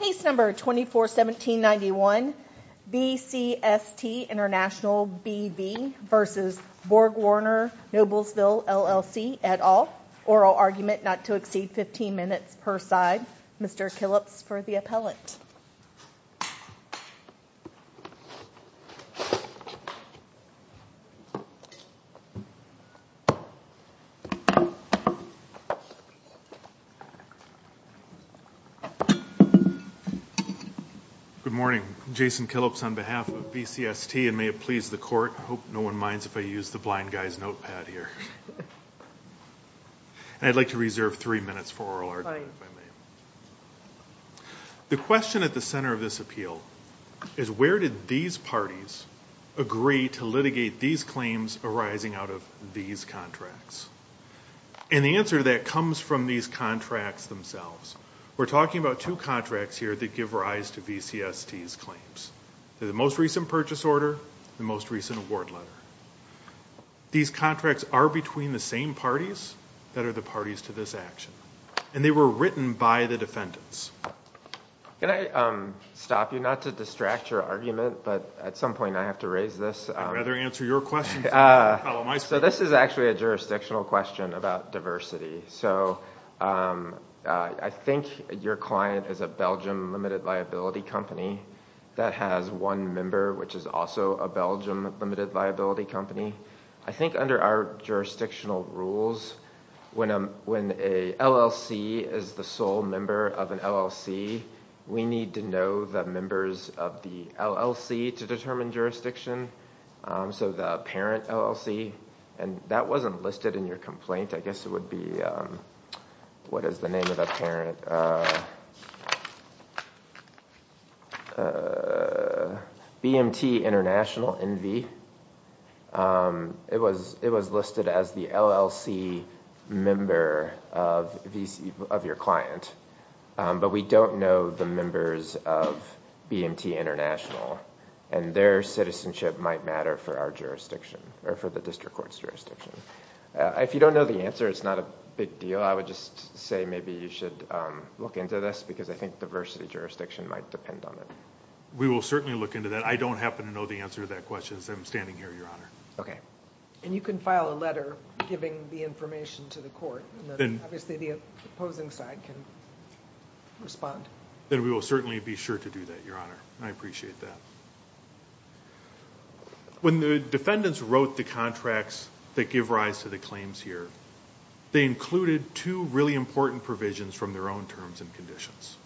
Case No. 241791 BCST International BV v. BorgWarner Noblesville LLC et al. Oral argument not to exceed 15 minutes per side. Mr. Killips for the appellant. Good morning. Jason Killips on behalf of BCST and may it please the court, I hope no one minds if I use the blind guy's notepad here. I'd like to reserve three minutes for oral argument if I may. The question at the center of this appeal is where did these parties agree to litigate these claims arising out of these contracts? And the answer to that comes from these contracts themselves. We're talking about two contracts here that give rise to BCST's claims. The most recent purchase order, the most recent award letter. These contracts are between the same parties that are the parties to this action. And they were written by the defendants. Can I stop you not to distract your argument, but at some point I have to raise this. I'd rather answer your question. So this is actually a jurisdictional question about diversity. So I think your client is a Belgium limited liability company that has one member which is also a Belgium limited liability company. I think under our jurisdictional rules, when an LLC is the sole member of an LLC, we need to know the members of the LLC to determine jurisdiction. So the parent LLC, and that wasn't listed in your complaint. I guess it would be, what is the name of the parent? BMT International, NV. It was listed as the LLC member of your client. But we don't know the members of BMT International. And their citizenship might matter for our jurisdiction, or for the district court's jurisdiction. If you don't know the answer, it's not a big deal. I would just say maybe you should look into this because I think diversity jurisdiction might depend on it. We will certainly look into that. I don't happen to know the answer to that question, so I'm standing here, Your Honor. Okay. And you can file a letter giving the information to the court. Obviously, the opposing side can respond. Then we will certainly be sure to do that, Your Honor. I appreciate that. When the defendants wrote the contracts that give rise to the claims here, they included two really important provisions from their own terms and conditions.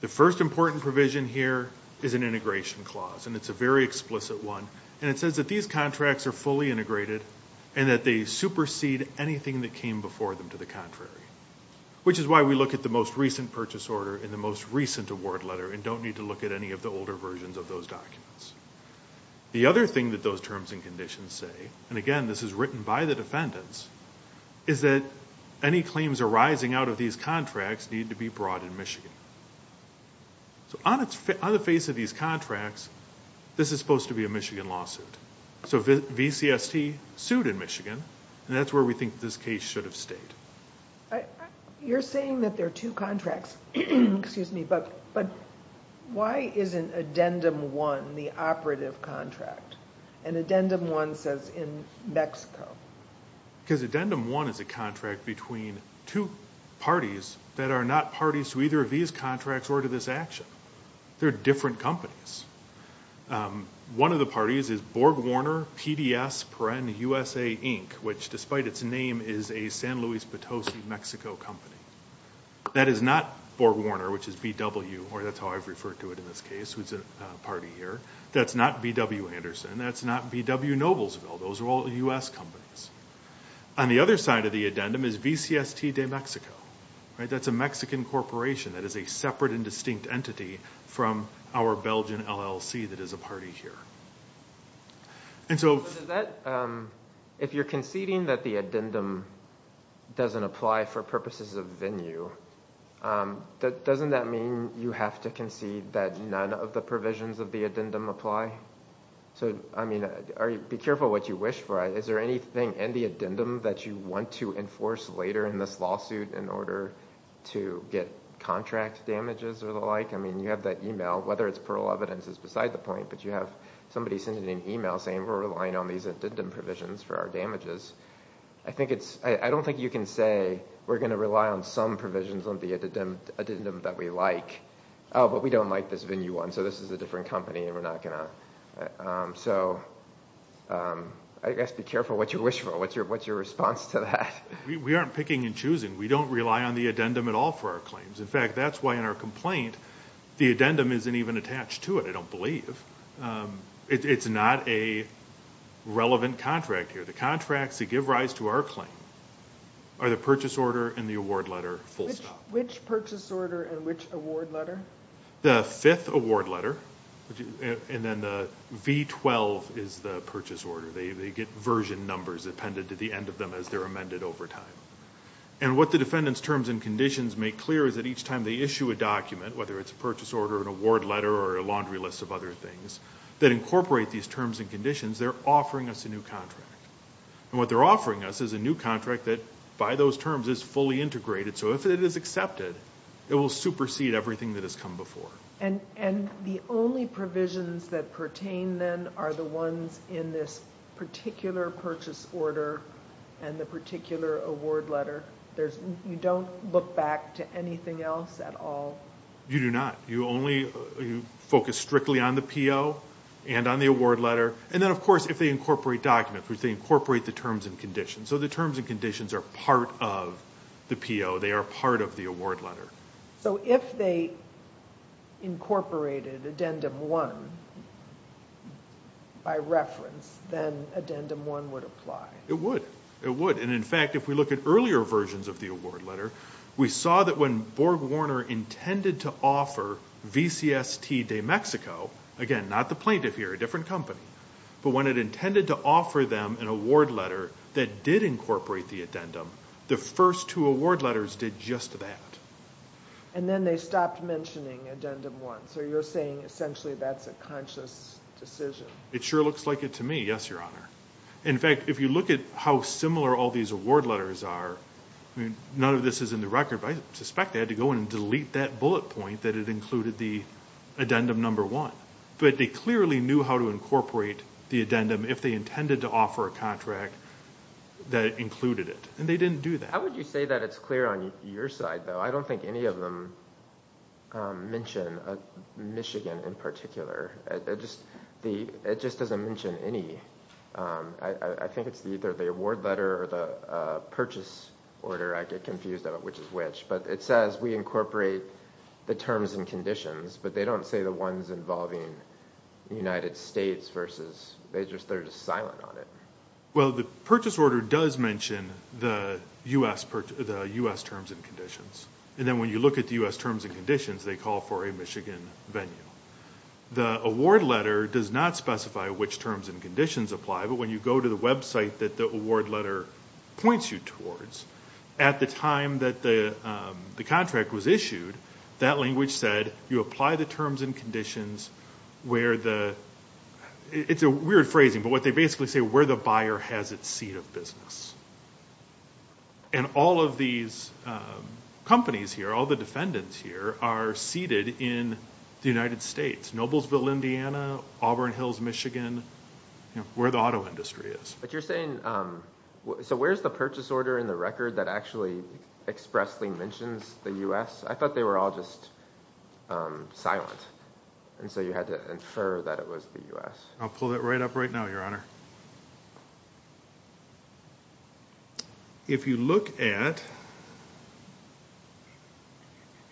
The first important provision here is an integration clause, and it's a very explicit one. And it says that these contracts are fully integrated and that they supersede anything that came before them to the contrary, which is why we look at the most recent purchase order in the most recent award letter and don't need to look at any of the older versions of those documents. The other thing that those terms and conditions say, and again, this is written by the defendants, is that any claims arising out of these contracts need to be brought in Michigan. So on the face of these contracts, this is supposed to be a Michigan lawsuit. So VCST sued in Michigan, and that's where we think this case should have stayed. You're saying that there are two contracts, but why isn't Addendum 1 the operative contract, and Addendum 1 says in Mexico? Because Addendum 1 is a contract between two parties that are not parties to either of these contracts or to this action. They're different companies. One of the parties is BorgWarner PDS Peren USA, Inc., which despite its name is a San Luis Potosi, Mexico company. That is not BorgWarner, which is BW, or that's how I've referred to it in this case. It's a party here. That's not BW Anderson. That's not BW Noblesville. Those are all U.S. companies. On the other side of the addendum is VCST de Mexico. That's a Mexican corporation that is a separate and distinct entity from our Belgian LLC that is a party here. If you're conceding that the addendum doesn't apply for purposes of venue, doesn't that mean you have to concede that none of the provisions of the addendum apply? Be careful what you wish for. Is there anything in the addendum that you want to enforce later in this lawsuit in order to get contract damages or the like? You have that email. Whether it's plural evidence is beside the point, but you have somebody sending an email saying, we're relying on these addendum provisions for our damages. I don't think you can say we're going to rely on some provisions on the addendum that we like. Oh, but we don't like this venue one, so this is a different company and we're not going to. So I guess be careful what you wish for, what's your response to that. We aren't picking and choosing. We don't rely on the addendum at all for our claims. In fact, that's why in our complaint the addendum isn't even attached to it, I don't believe. It's not a relevant contract here. The contracts that give rise to our claim are the purchase order and the award letter, full stop. Which purchase order and which award letter? The fifth award letter, and then the V12 is the purchase order. They get version numbers appended to the end of them as they're amended over time. And what the defendant's terms and conditions make clear is that each time they issue a document, whether it's a purchase order, an award letter, or a laundry list of other things, that incorporate these terms and conditions, they're offering us a new contract. And what they're offering us is a new contract that by those terms is fully integrated. So if it is accepted, it will supersede everything that has come before. And the only provisions that pertain then are the ones in this particular purchase order and the particular award letter. You don't look back to anything else at all? You do not. You only focus strictly on the PO and on the award letter. And then, of course, if they incorporate documents, if they incorporate the terms and conditions. So the terms and conditions are part of the PO. They are part of the award letter. So if they incorporated Addendum 1 by reference, then Addendum 1 would apply? It would. It would. And in fact, if we look at earlier versions of the award letter, we saw that when Borg Warner intended to offer VCST de Mexico, again, not the plaintiff here, a different company, but when it intended to offer them an award letter that did incorporate the addendum, the first two award letters did just that. And then they stopped mentioning Addendum 1. So you're saying essentially that's a conscious decision? It sure looks like it to me, yes, Your Honor. In fact, if you look at how similar all these award letters are, none of this is in the record, but I suspect they had to go in and delete that bullet point that it included the Addendum 1. But they clearly knew how to incorporate the addendum if they intended to offer a contract that included it, and they didn't do that. How would you say that it's clear on your side, though? I don't think any of them mention Michigan in particular. It just doesn't mention any. I think it's either the award letter or the purchase order. I get confused about which is which. But it says we incorporate the terms and conditions, but they don't say the ones involving the United States versus they're just silent on it. Well, the purchase order does mention the U.S. terms and conditions. And then when you look at the U.S. terms and conditions, they call for a Michigan venue. The award letter does not specify which terms and conditions apply, but when you go to the website that the award letter points you towards, at the time that the contract was issued, that language said, you apply the terms and conditions where the – it's a weird phrasing, but what they basically say, where the buyer has its seat of business. And all of these companies here, all the defendants here, are seated in the United States, Noblesville, Indiana, Auburn Hills, Michigan, where the auto industry is. But you're saying – so where's the purchase order in the record that actually expressly mentions the U.S.? I thought they were all just silent, and so you had to infer that it was the U.S. I'll pull that right up right now, Your Honor. If you look at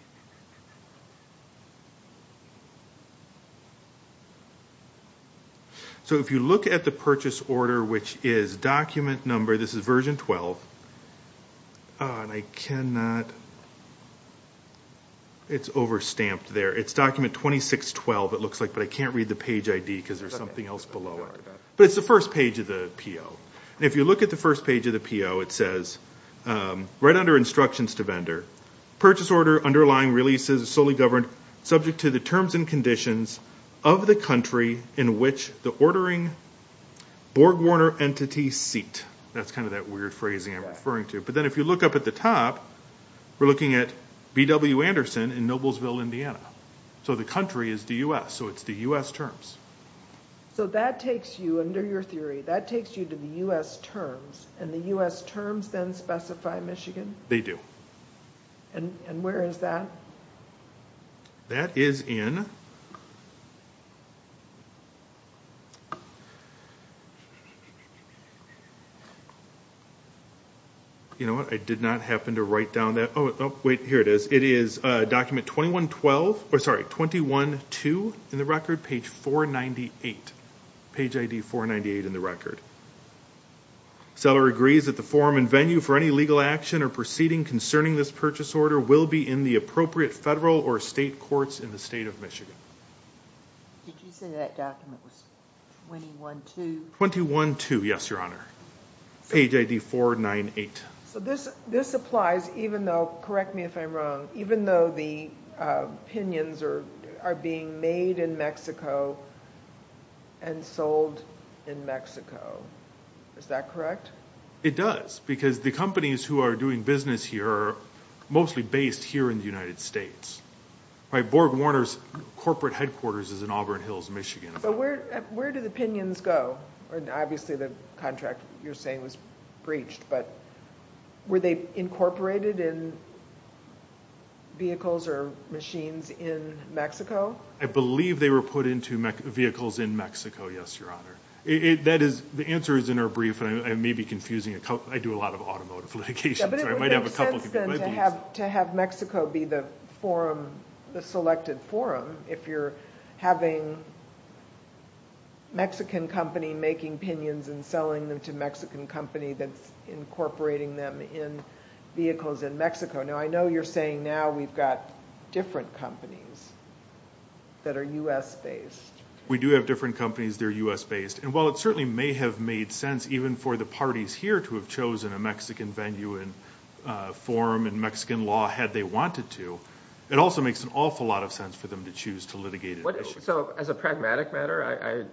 – so if you look at the purchase order, which is document number, this is version 12, and I cannot – it's overstamped there. It's document 2612, it looks like, but I can't read the page ID because there's something else below it. But it's the first page of the PO. And if you look at the first page of the PO, it says, right under instructions to vendor, purchase order underlying releases solely governed subject to the terms and conditions of the country in which the ordering BorgWarner entity seat. That's kind of that weird phrasing I'm referring to. But then if you look up at the top, we're looking at B.W. Anderson in Noblesville, Indiana. So the country is the U.S., so it's the U.S. terms. So that takes you, under your theory, that takes you to the U.S. terms, and the U.S. terms then specify Michigan? They do. And where is that? That is in – you know what, I did not happen to write down that – oh, wait, here it is. It is document 2112 – or, sorry, 21-2 in the record, page 498. Page ID 498 in the record. Seller agrees that the form and venue for any legal action or proceeding concerning this purchase order will be in the appropriate federal or state courts in the state of Michigan. Did you say that document was 21-2? 21-2, yes, Your Honor. Page ID 498. So this applies even though – correct me if I'm wrong – even though the pinions are being made in Mexico and sold in Mexico. Is that correct? It does, because the companies who are doing business here are mostly based here in the United States. Borg Warner's corporate headquarters is in Auburn Hills, Michigan. But where do the pinions go? Obviously, the contract you're saying was breached, but were they incorporated in vehicles or machines in Mexico? I believe they were put into vehicles in Mexico, yes, Your Honor. The answer is in our brief, and I may be confusing it. I do a lot of automotive litigation, so I might have a couple of different ideas. But it would make sense then to have Mexico be the forum, the selected forum, if you're having a Mexican company making pinions and selling them to a Mexican company that's incorporating them in vehicles in Mexico. Now, I know you're saying now we've got different companies that are U.S.-based. We do have different companies that are U.S.-based. And while it certainly may have made sense even for the parties here to have chosen a Mexican venue and forum and Mexican law had they wanted to, it also makes an awful lot of sense for them to choose to litigate it. So as a pragmatic matter,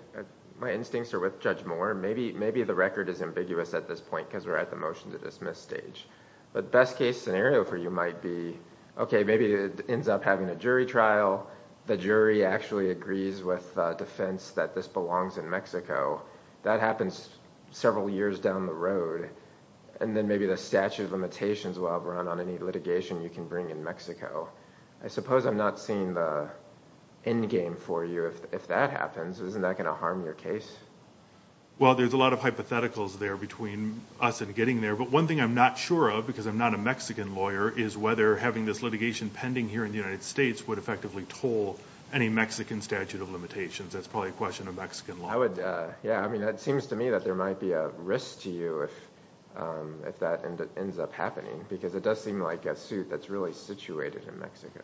my instincts are with Judge Moore. Maybe the record is ambiguous at this point because we're at the motion to dismiss stage. But the best-case scenario for you might be, okay, maybe it ends up having a jury trial. The jury actually agrees with defense that this belongs in Mexico. That happens several years down the road. And then maybe the statute of limitations will have run on any litigation you can bring in Mexico. I suppose I'm not seeing the endgame for you if that happens. Isn't that going to harm your case? Well, there's a lot of hypotheticals there between us and getting there. But one thing I'm not sure of, because I'm not a Mexican lawyer, is whether having this litigation pending here in the United States would effectively toll any Mexican statute of limitations. That's probably a question of Mexican law. Yeah, I mean, it seems to me that there might be a risk to you if that ends up happening because it does seem like a suit that's really situated in Mexico.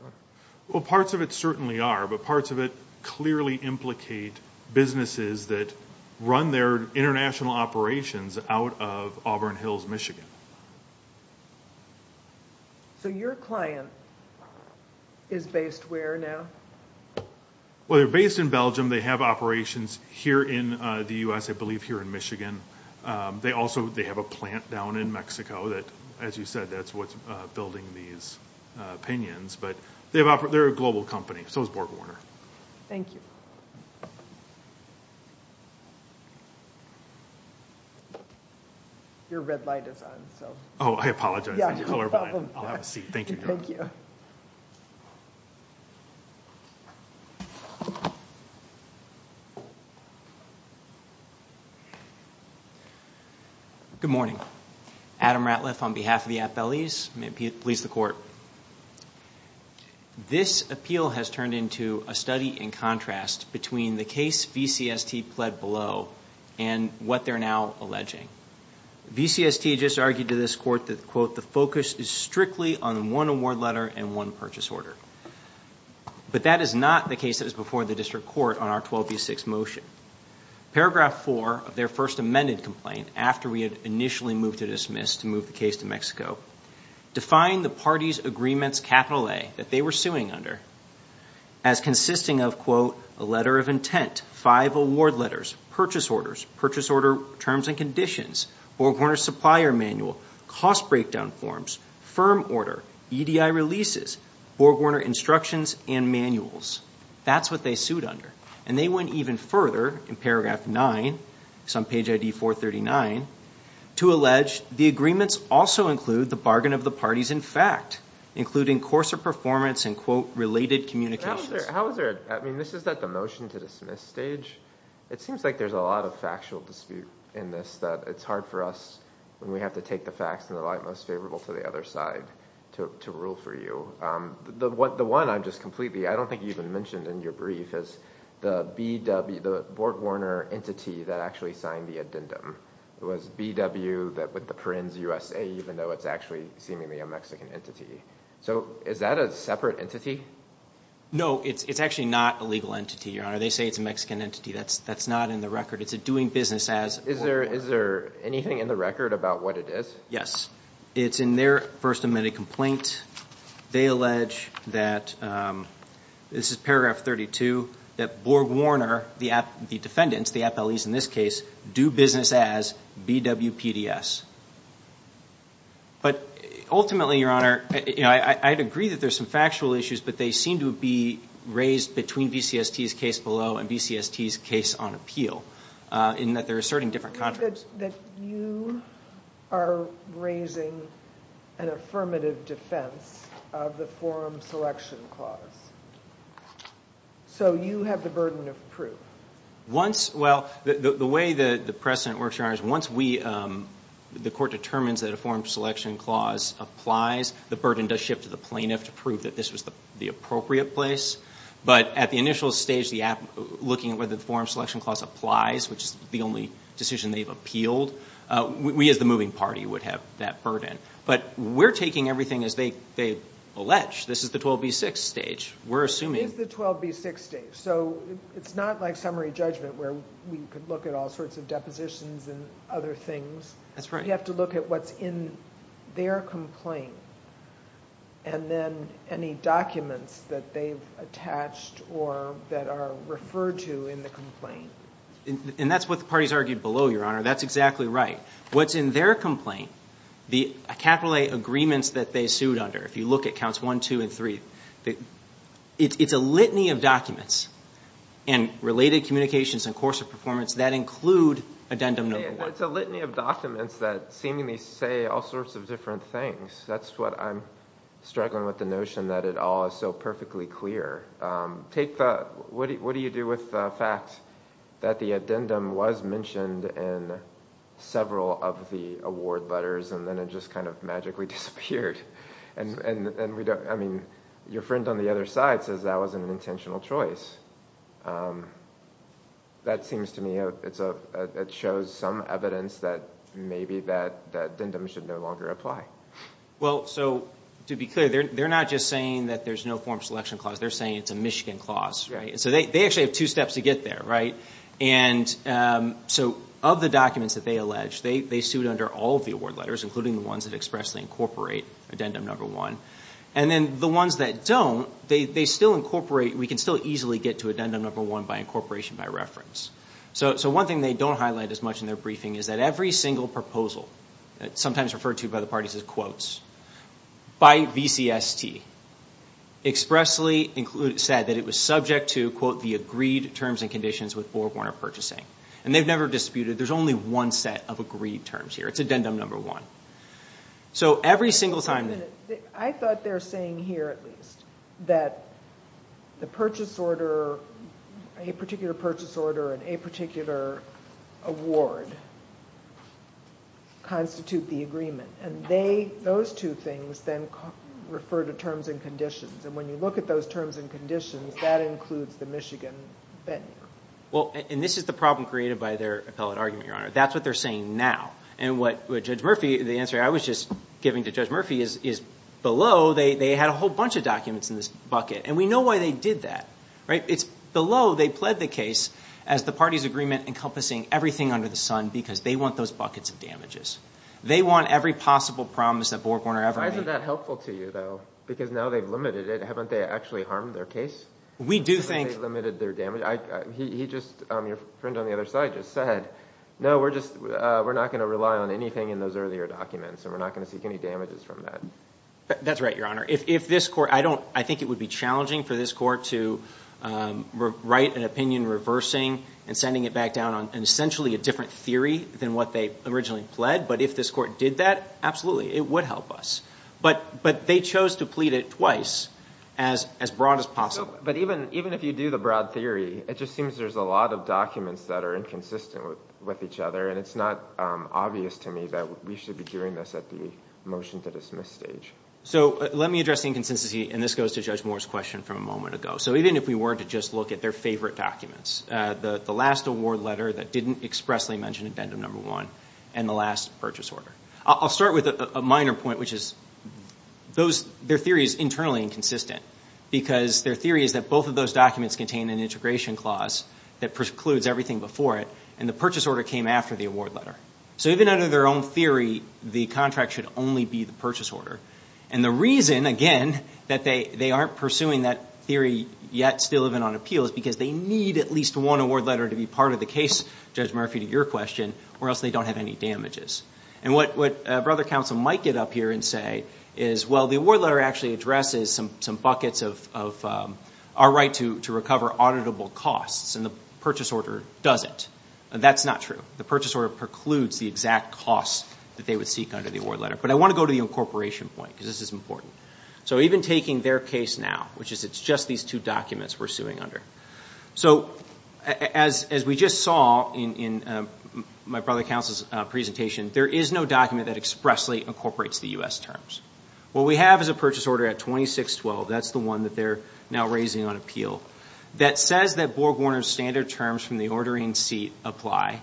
Well, parts of it certainly are, but parts of it clearly implicate businesses that run their international operations out of Auburn Hills, Michigan. So your client is based where now? Well, they're based in Belgium. They have operations here in the U.S., I believe, here in Michigan. They also have a plant down in Mexico that, as you said, that's what's building these pinions. But they're a global company, so is BorgWarner. Thank you. Your red light is on. Oh, I apologize. Yeah, no problem. I'll have a seat. Thank you. Thank you. Good morning. Adam Ratliff on behalf of the appellees. I'm going to please the Court. This appeal has turned into a study in contrast between the case VCST pled below and what they're now alleging. VCST just argued to this Court that, quote, the focus is strictly on one award letter and one purchase order. But that is not the case that is before the District Court on our 12B6 motion. Paragraph 4 of their first amended complaint, after we had initially moved to dismiss to move the case to Mexico, defined the parties' agreements, capital A, that they were suing under as consisting of, quote, a letter of intent, five award letters, purchase orders, purchase order terms and conditions, BorgWarner supplier manual, cost breakdown forms, firm order, EDI releases, BorgWarner instructions and manuals. That's what they sued under. And they went even further in paragraph 9, it's on page ID 439, to allege the agreements also include the bargain of the parties in fact, including coarser performance and, quote, related communications. How is there a – I mean, this is at the motion to dismiss stage. It seems like there's a lot of factual dispute in this, that it's hard for us when we have to take the facts in the light most favorable to the other side to rule for you. The one I'm just completely – I don't think you even mentioned in your brief, is the BW – the BorgWarner entity that actually signed the addendum. It was BW with the prints USA, even though it's actually seemingly a Mexican entity. So is that a separate entity? No, it's actually not a legal entity, Your Honor. They say it's a Mexican entity. That's not in the record. It's a doing business as BorgWarner. Is there anything in the record about what it is? Yes. It's in their first amended complaint. They allege that – this is paragraph 32 – that BorgWarner, the defendants, the appellees in this case, do business as BW PDS. But ultimately, Your Honor, I'd agree that there's some factual issues, but they seem to be raised between BCST's case below and BCST's case on appeal, in that they're asserting different contracts. You said that you are raising an affirmative defense of the forum selection clause. So you have the burden of proof. Once – well, the way the precedent works, Your Honor, is once the court determines that a forum selection clause applies, the burden does shift to the plaintiff to prove that this was the appropriate place. But at the initial stage, looking at whether the forum selection clause applies, which is the only decision they've appealed, we as the moving party would have that burden. But we're taking everything as they allege. This is the 12B6 stage. We're assuming – It is the 12B6 stage. So it's not like summary judgment where we could look at all sorts of depositions and other things. That's right. You have to look at what's in their complaint and then any documents that they've attached or that are referred to in the complaint. And that's what the parties argued below, Your Honor. That's exactly right. What's in their complaint, the capital A agreements that they sued under, if you look at counts one, two, and three, it's a litany of documents and related communications and course of performance that include addendum number one. It's a litany of documents that seemingly say all sorts of different things. That's what I'm struggling with, the notion that it all is so perfectly clear. What do you do with the fact that the addendum was mentioned in several of the award letters and then it just kind of magically disappeared? I mean, your friend on the other side says that was an intentional choice. That seems to me it shows some evidence that maybe that addendum should no longer apply. Well, so to be clear, they're not just saying that there's no form selection clause. They're saying it's a Michigan clause. So they actually have two steps to get there, right? And so of the documents that they allege, they sued under all of the award letters, including the ones that expressly incorporate addendum number one. And then the ones that don't, they still incorporate. We can still easily get to addendum number one by incorporation by reference. So one thing they don't highlight as much in their briefing is that every single proposal, sometimes referred to by the parties as quotes, by VCST, expressly said that it was subject to, quote, the agreed terms and conditions with Board Warner Purchasing. And they've never disputed. There's only one set of agreed terms here. It's addendum number one. So every single time— Wait a minute. I thought they were saying here at least that the purchase order, a particular purchase order and a particular award constitute the agreement. And they, those two things, then refer to terms and conditions. And when you look at those terms and conditions, that includes the Michigan venue. Well, and this is the problem created by their appellate argument, Your Honor. That's what they're saying now. And what Judge Murphy, the answer I was just giving to Judge Murphy is below, they had a whole bunch of documents in this bucket. And we know why they did that, right? It's below they pled the case as the party's agreement encompassing everything under the sun because they want those buckets of damages. They want every possible promise that Board Warner ever made. Isn't that helpful to you, though? Because now they've limited it. Haven't they actually harmed their case? We do think— They've limited their damage. He just, your friend on the other side just said, no, we're not going to rely on anything in those earlier documents and we're not going to seek any damages from that. That's right, Your Honor. If this court—I think it would be challenging for this court to write an opinion reversing and sending it back down on essentially a different theory than what they originally pled. But if this court did that, absolutely, it would help us. But they chose to plead it twice as broad as possible. But even if you do the broad theory, it just seems there's a lot of documents that are inconsistent with each other. And it's not obvious to me that we should be doing this at the motion to dismiss stage. So let me address the inconsistency, and this goes to Judge Moore's question from a moment ago. So even if we were to just look at their favorite documents, the last award letter that didn't expressly mention addendum number one, and the last purchase order. I'll start with a minor point, which is their theory is internally inconsistent because their theory is that both of those documents contain an integration clause that precludes everything before it, and the purchase order came after the award letter. So even under their own theory, the contract should only be the purchase order. And the reason, again, that they aren't pursuing that theory yet, still even on appeal, is because they need at least one award letter to be part of the case, Judge Murphy, to your question, or else they don't have any damages. And what Brother Counsel might get up here and say is, well, the award letter actually addresses some buckets of our right to recover auditable costs, and the purchase order doesn't. That's not true. The purchase order precludes the exact costs that they would seek under the award letter. But I want to go to the incorporation point because this is important. So even taking their case now, which is it's just these two documents we're suing under. So as we just saw in my brother counsel's presentation, there is no document that expressly incorporates the U.S. terms. What we have is a purchase order at 2612, that's the one that they're now raising on appeal, that says that BorgWarner's standard terms from the ordering seat apply.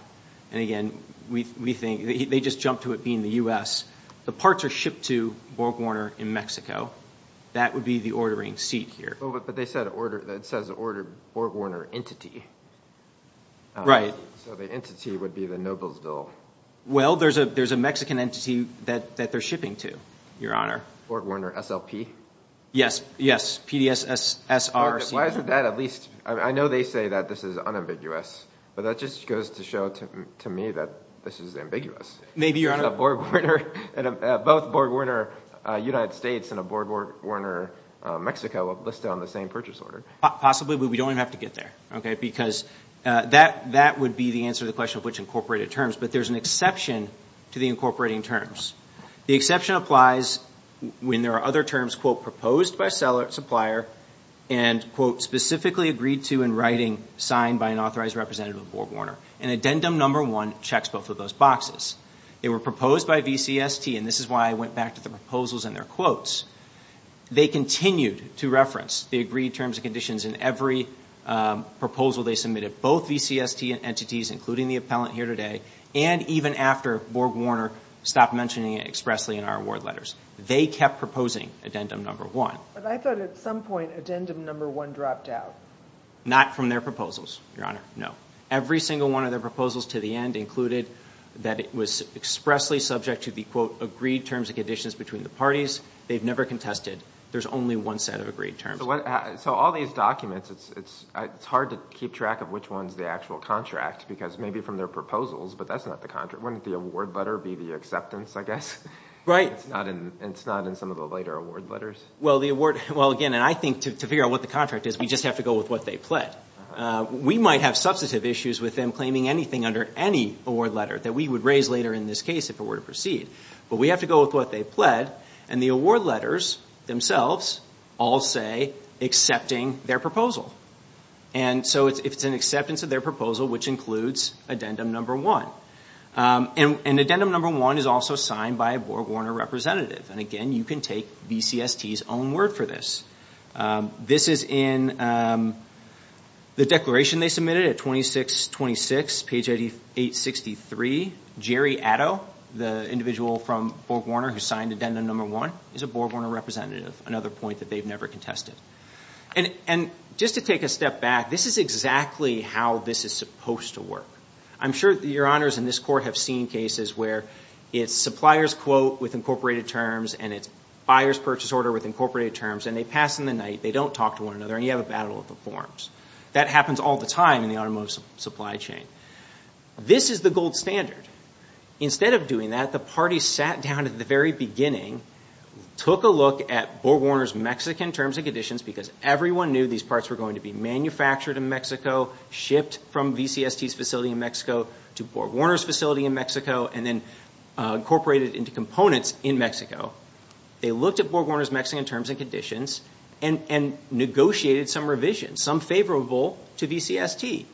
And, again, we think they just jumped to it being the U.S. The parts are shipped to BorgWarner in Mexico. That would be the ordering seat here. But it says order BorgWarner entity. Right. So the entity would be the Noblesville. Well, there's a Mexican entity that they're shipping to, Your Honor. BorgWarner SLP? Yes. Yes. Why isn't that at least – I know they say that this is unambiguous, but that just goes to show to me that this is ambiguous. Maybe, Your Honor. Both BorgWarner United States and BorgWarner Mexico are listed on the same purchase order. Possibly, but we don't even have to get there, okay, because that would be the answer to the question of which incorporated terms. But there's an exception to the incorporating terms. The exception applies when there are other terms, quote, proposed by a supplier and, quote, specifically agreed to in writing signed by an authorized representative of BorgWarner. And addendum number one checks both of those boxes. They were proposed by VCST, and this is why I went back to the proposals and their quotes. They continued to reference the agreed terms and conditions in every proposal they submitted, both VCST entities, including the appellant here today, and even after BorgWarner stopped mentioning it expressly in our award letters. They kept proposing addendum number one. But I thought at some point addendum number one dropped out. Not from their proposals, Your Honor, no. Every single one of their proposals to the end included that it was expressly subject to the, quote, agreed terms and conditions between the parties. They've never contested. There's only one set of agreed terms. So all these documents, it's hard to keep track of which one's the actual contract because maybe from their proposals, but that's not the contract. Wouldn't the award letter be the acceptance, I guess? Right. It's not in some of the later award letters? Well, again, and I think to figure out what the contract is, we just have to go with what they pled. We might have substantive issues with them claiming anything under any award letter that we would raise later in this case if it were to proceed. But we have to go with what they pled, and the award letters themselves all say accepting their proposal. And so if it's an acceptance of their proposal, which includes addendum number one. And addendum number one is also signed by a BorgWarner representative. And, again, you can take BCST's own word for this. This is in the declaration they submitted at 2626, page 863. Jerry Addo, the individual from BorgWarner who signed addendum number one, is a BorgWarner representative, another point that they've never contested. And just to take a step back, this is exactly how this is supposed to work. I'm sure your honors in this court have seen cases where it's supplier's quote with incorporated terms and it's buyer's purchase order with incorporated terms, and they pass in the night, they don't talk to one another, and you have a battle of the forms. That happens all the time in the automotive supply chain. This is the gold standard. Instead of doing that, the parties sat down at the very beginning, took a look at BorgWarner's Mexican terms and conditions because everyone knew these parts were going to be manufactured in Mexico, shipped from BCST's facility in Mexico to BorgWarner's facility in Mexico, and then incorporated into components in Mexico. They looked at BorgWarner's Mexican terms and conditions and negotiated some revisions, some favorable to BCST.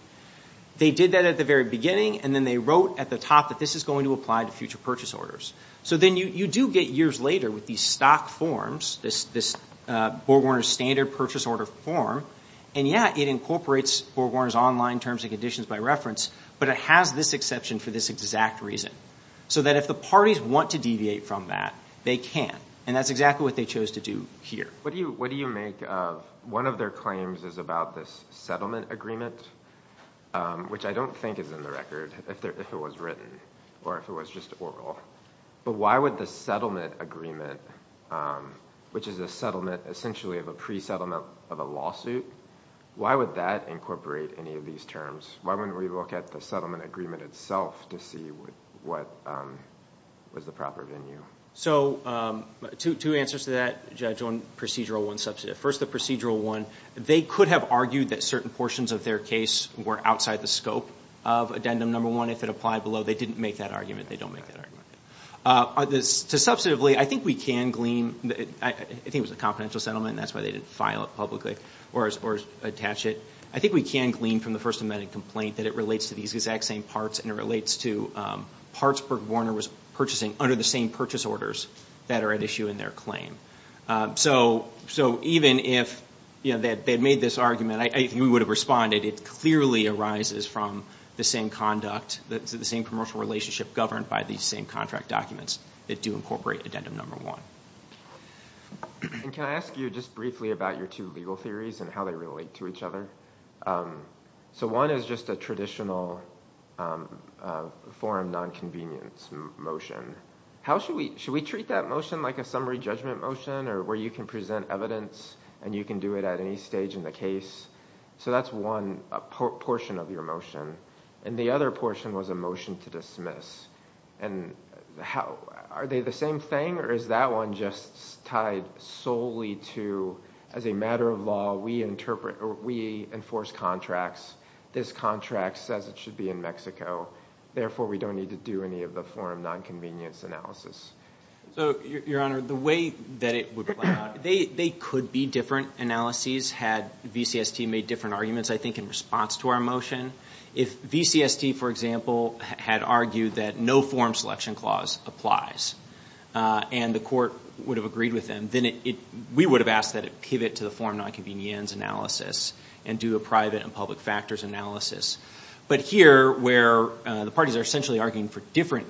They did that at the very beginning, and then they wrote at the top that this is going to apply to future purchase orders. So then you do get years later with these stock forms, this BorgWarner's standard purchase order form, and, yeah, it incorporates BorgWarner's online terms and conditions by reference, but it has this exception for this exact reason, so that if the parties want to deviate from that, they can, and that's exactly what they chose to do here. What do you make of one of their claims is about this settlement agreement, which I don't think is in the record if it was written or if it was just oral, but why would the settlement agreement, which is a settlement essentially of a pre-settlement of a lawsuit, why would that incorporate any of these terms? Why wouldn't we look at the settlement agreement itself to see what was the proper venue? So two answers to that, Judge, on Procedural I, Substantive. First, the Procedural I, they could have argued that certain portions of their case were outside the scope of Addendum No. 1 if it applied below. They didn't make that argument. They don't make that argument. Substantively, I think we can glean, I think it was a confidential settlement, and that's why they didn't file it publicly or attach it. I think we can glean from the First Amendment complaint that it relates to these exact same parts and it relates to parts BorgWarner was purchasing under the same purchase orders that are at issue in their claim. So even if they had made this argument, I think we would have responded. It clearly arises from the same conduct, the same commercial relationship governed by these same contract documents that do incorporate Addendum No. 1. Can I ask you just briefly about your two legal theories and how they relate to each other? So one is just a traditional forum nonconvenience motion. Should we treat that motion like a summary judgment motion where you can present evidence and you can do it at any stage in the case? So that's one portion of your motion. And the other portion was a motion to dismiss. Are they the same thing or is that one just tied solely to, as a matter of law, we enforce contracts, this contract says it should be in Mexico, therefore we don't need to do any of the forum nonconvenience analysis? So, Your Honor, the way that it would play out, they could be different analyses had VCST made different arguments, I think, in response to our motion. If VCST, for example, had argued that no forum selection clause applies and the court would have agreed with them, then we would have asked that it pivot to the forum nonconvenience analysis and do a private and public factors analysis. But here, where the parties are essentially arguing for different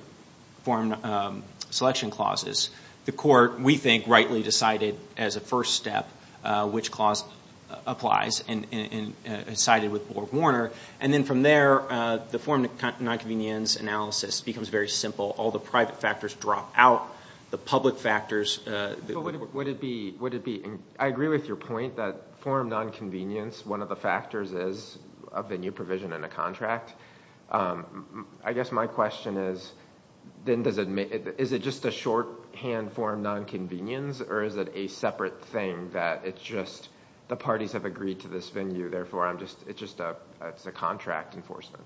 forum selection clauses, the court, we think, rightly decided as a first step which clause applies and sided with Borg-Warner. And then from there, the forum nonconvenience analysis becomes very simple. All the private factors drop out. The public factors— Would it be—I agree with your point that forum nonconvenience, one of the factors is a venue provision and a contract. I guess my question is, is it just a shorthand forum nonconvenience or is it a separate thing that it's just the parties have agreed to this venue, therefore it's a contract enforcement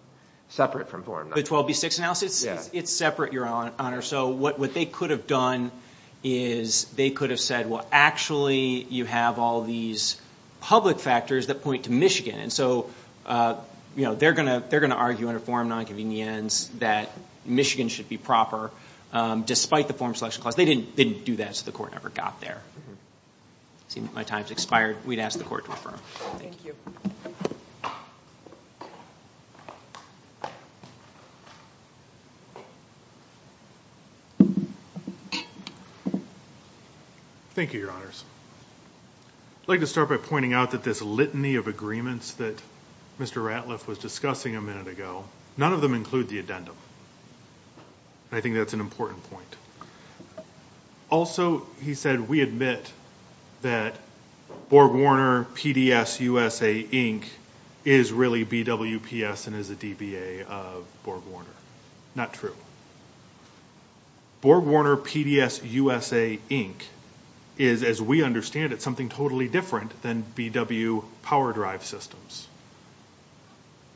separate from forum nonconvenience? The 12B6 analysis? Yes. It's separate, Your Honor. So what they could have done is they could have said, well, actually you have all these public factors that point to Michigan. And so they're going to argue under forum nonconvenience that Michigan should be proper, despite the forum selection clause. They didn't do that, so the court never got there. My time has expired. We'd ask the court to refer. Thank you. Thank you, Your Honors. I'd like to start by pointing out that this litany of agreements that Mr. Ratliff was discussing a minute ago, none of them include the addendum. I think that's an important point. Also, he said we admit that BorgWarner PDS USA, Inc. is really BWPS and is a DBA of BorgWarner. Not true. BorgWarner PDS USA, Inc. is, as we understand it, something totally different than BW Power Drive Systems.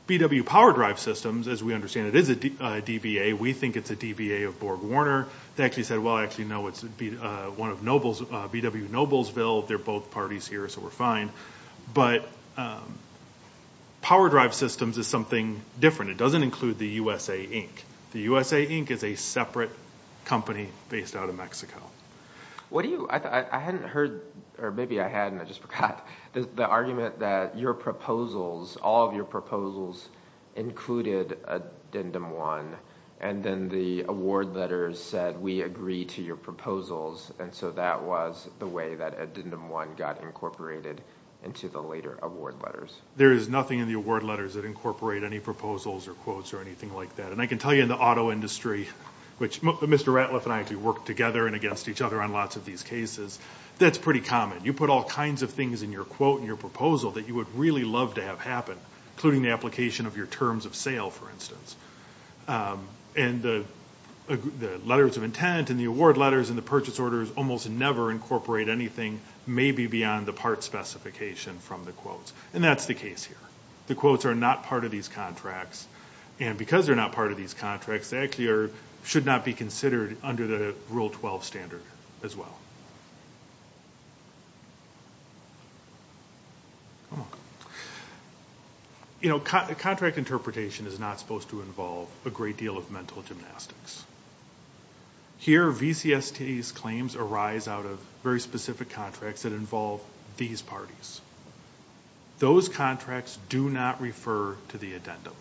BW Power Drive Systems, as we understand it, is a DBA. We think it's a DBA of BorgWarner. They actually said, well, I actually know it's one of BW Noblesville. They're both parties here, so we're fine. But Power Drive Systems is something different. It doesn't include the USA, Inc. The USA, Inc. is a separate company based out of Mexico. I hadn't heard, or maybe I had and I just forgot, the argument that your proposals, all of your proposals, included Addendum 1, and then the award letters said we agree to your proposals, and so that was the way that Addendum 1 got incorporated into the later award letters. There is nothing in the award letters that incorporate any proposals or quotes or anything like that. And I can tell you in the auto industry, which Mr. Ratliff and I actually work together and against each other on lots of these cases, that's pretty common. You put all kinds of things in your quote and your proposal that you would really love to have happen, including the application of your terms of sale, for instance. And the letters of intent and the award letters and the purchase orders almost never incorporate anything maybe beyond the part specification from the quotes, and that's the case here. The quotes are not part of these contracts, and because they're not part of these contracts, they actually should not be considered under the Rule 12 standard as well. You know, contract interpretation is not supposed to involve a great deal of mental gymnastics. Here, VCST's claims arise out of very specific contracts that involve these parties. Those contracts do not refer to the addendum.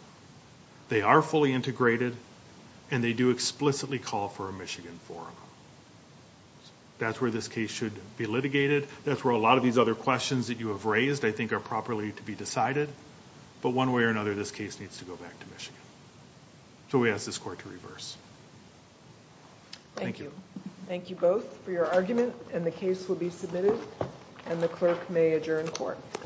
They are fully integrated, and they do explicitly call for a Michigan forum. That's where this case should be litigated. That's where a lot of these other questions that you have raised, I think, are properly to be decided. But one way or another, this case needs to go back to Michigan. So we ask this Court to reverse. Thank you. Thank you both for your argument, and the case will be submitted, and the clerk may adjourn court.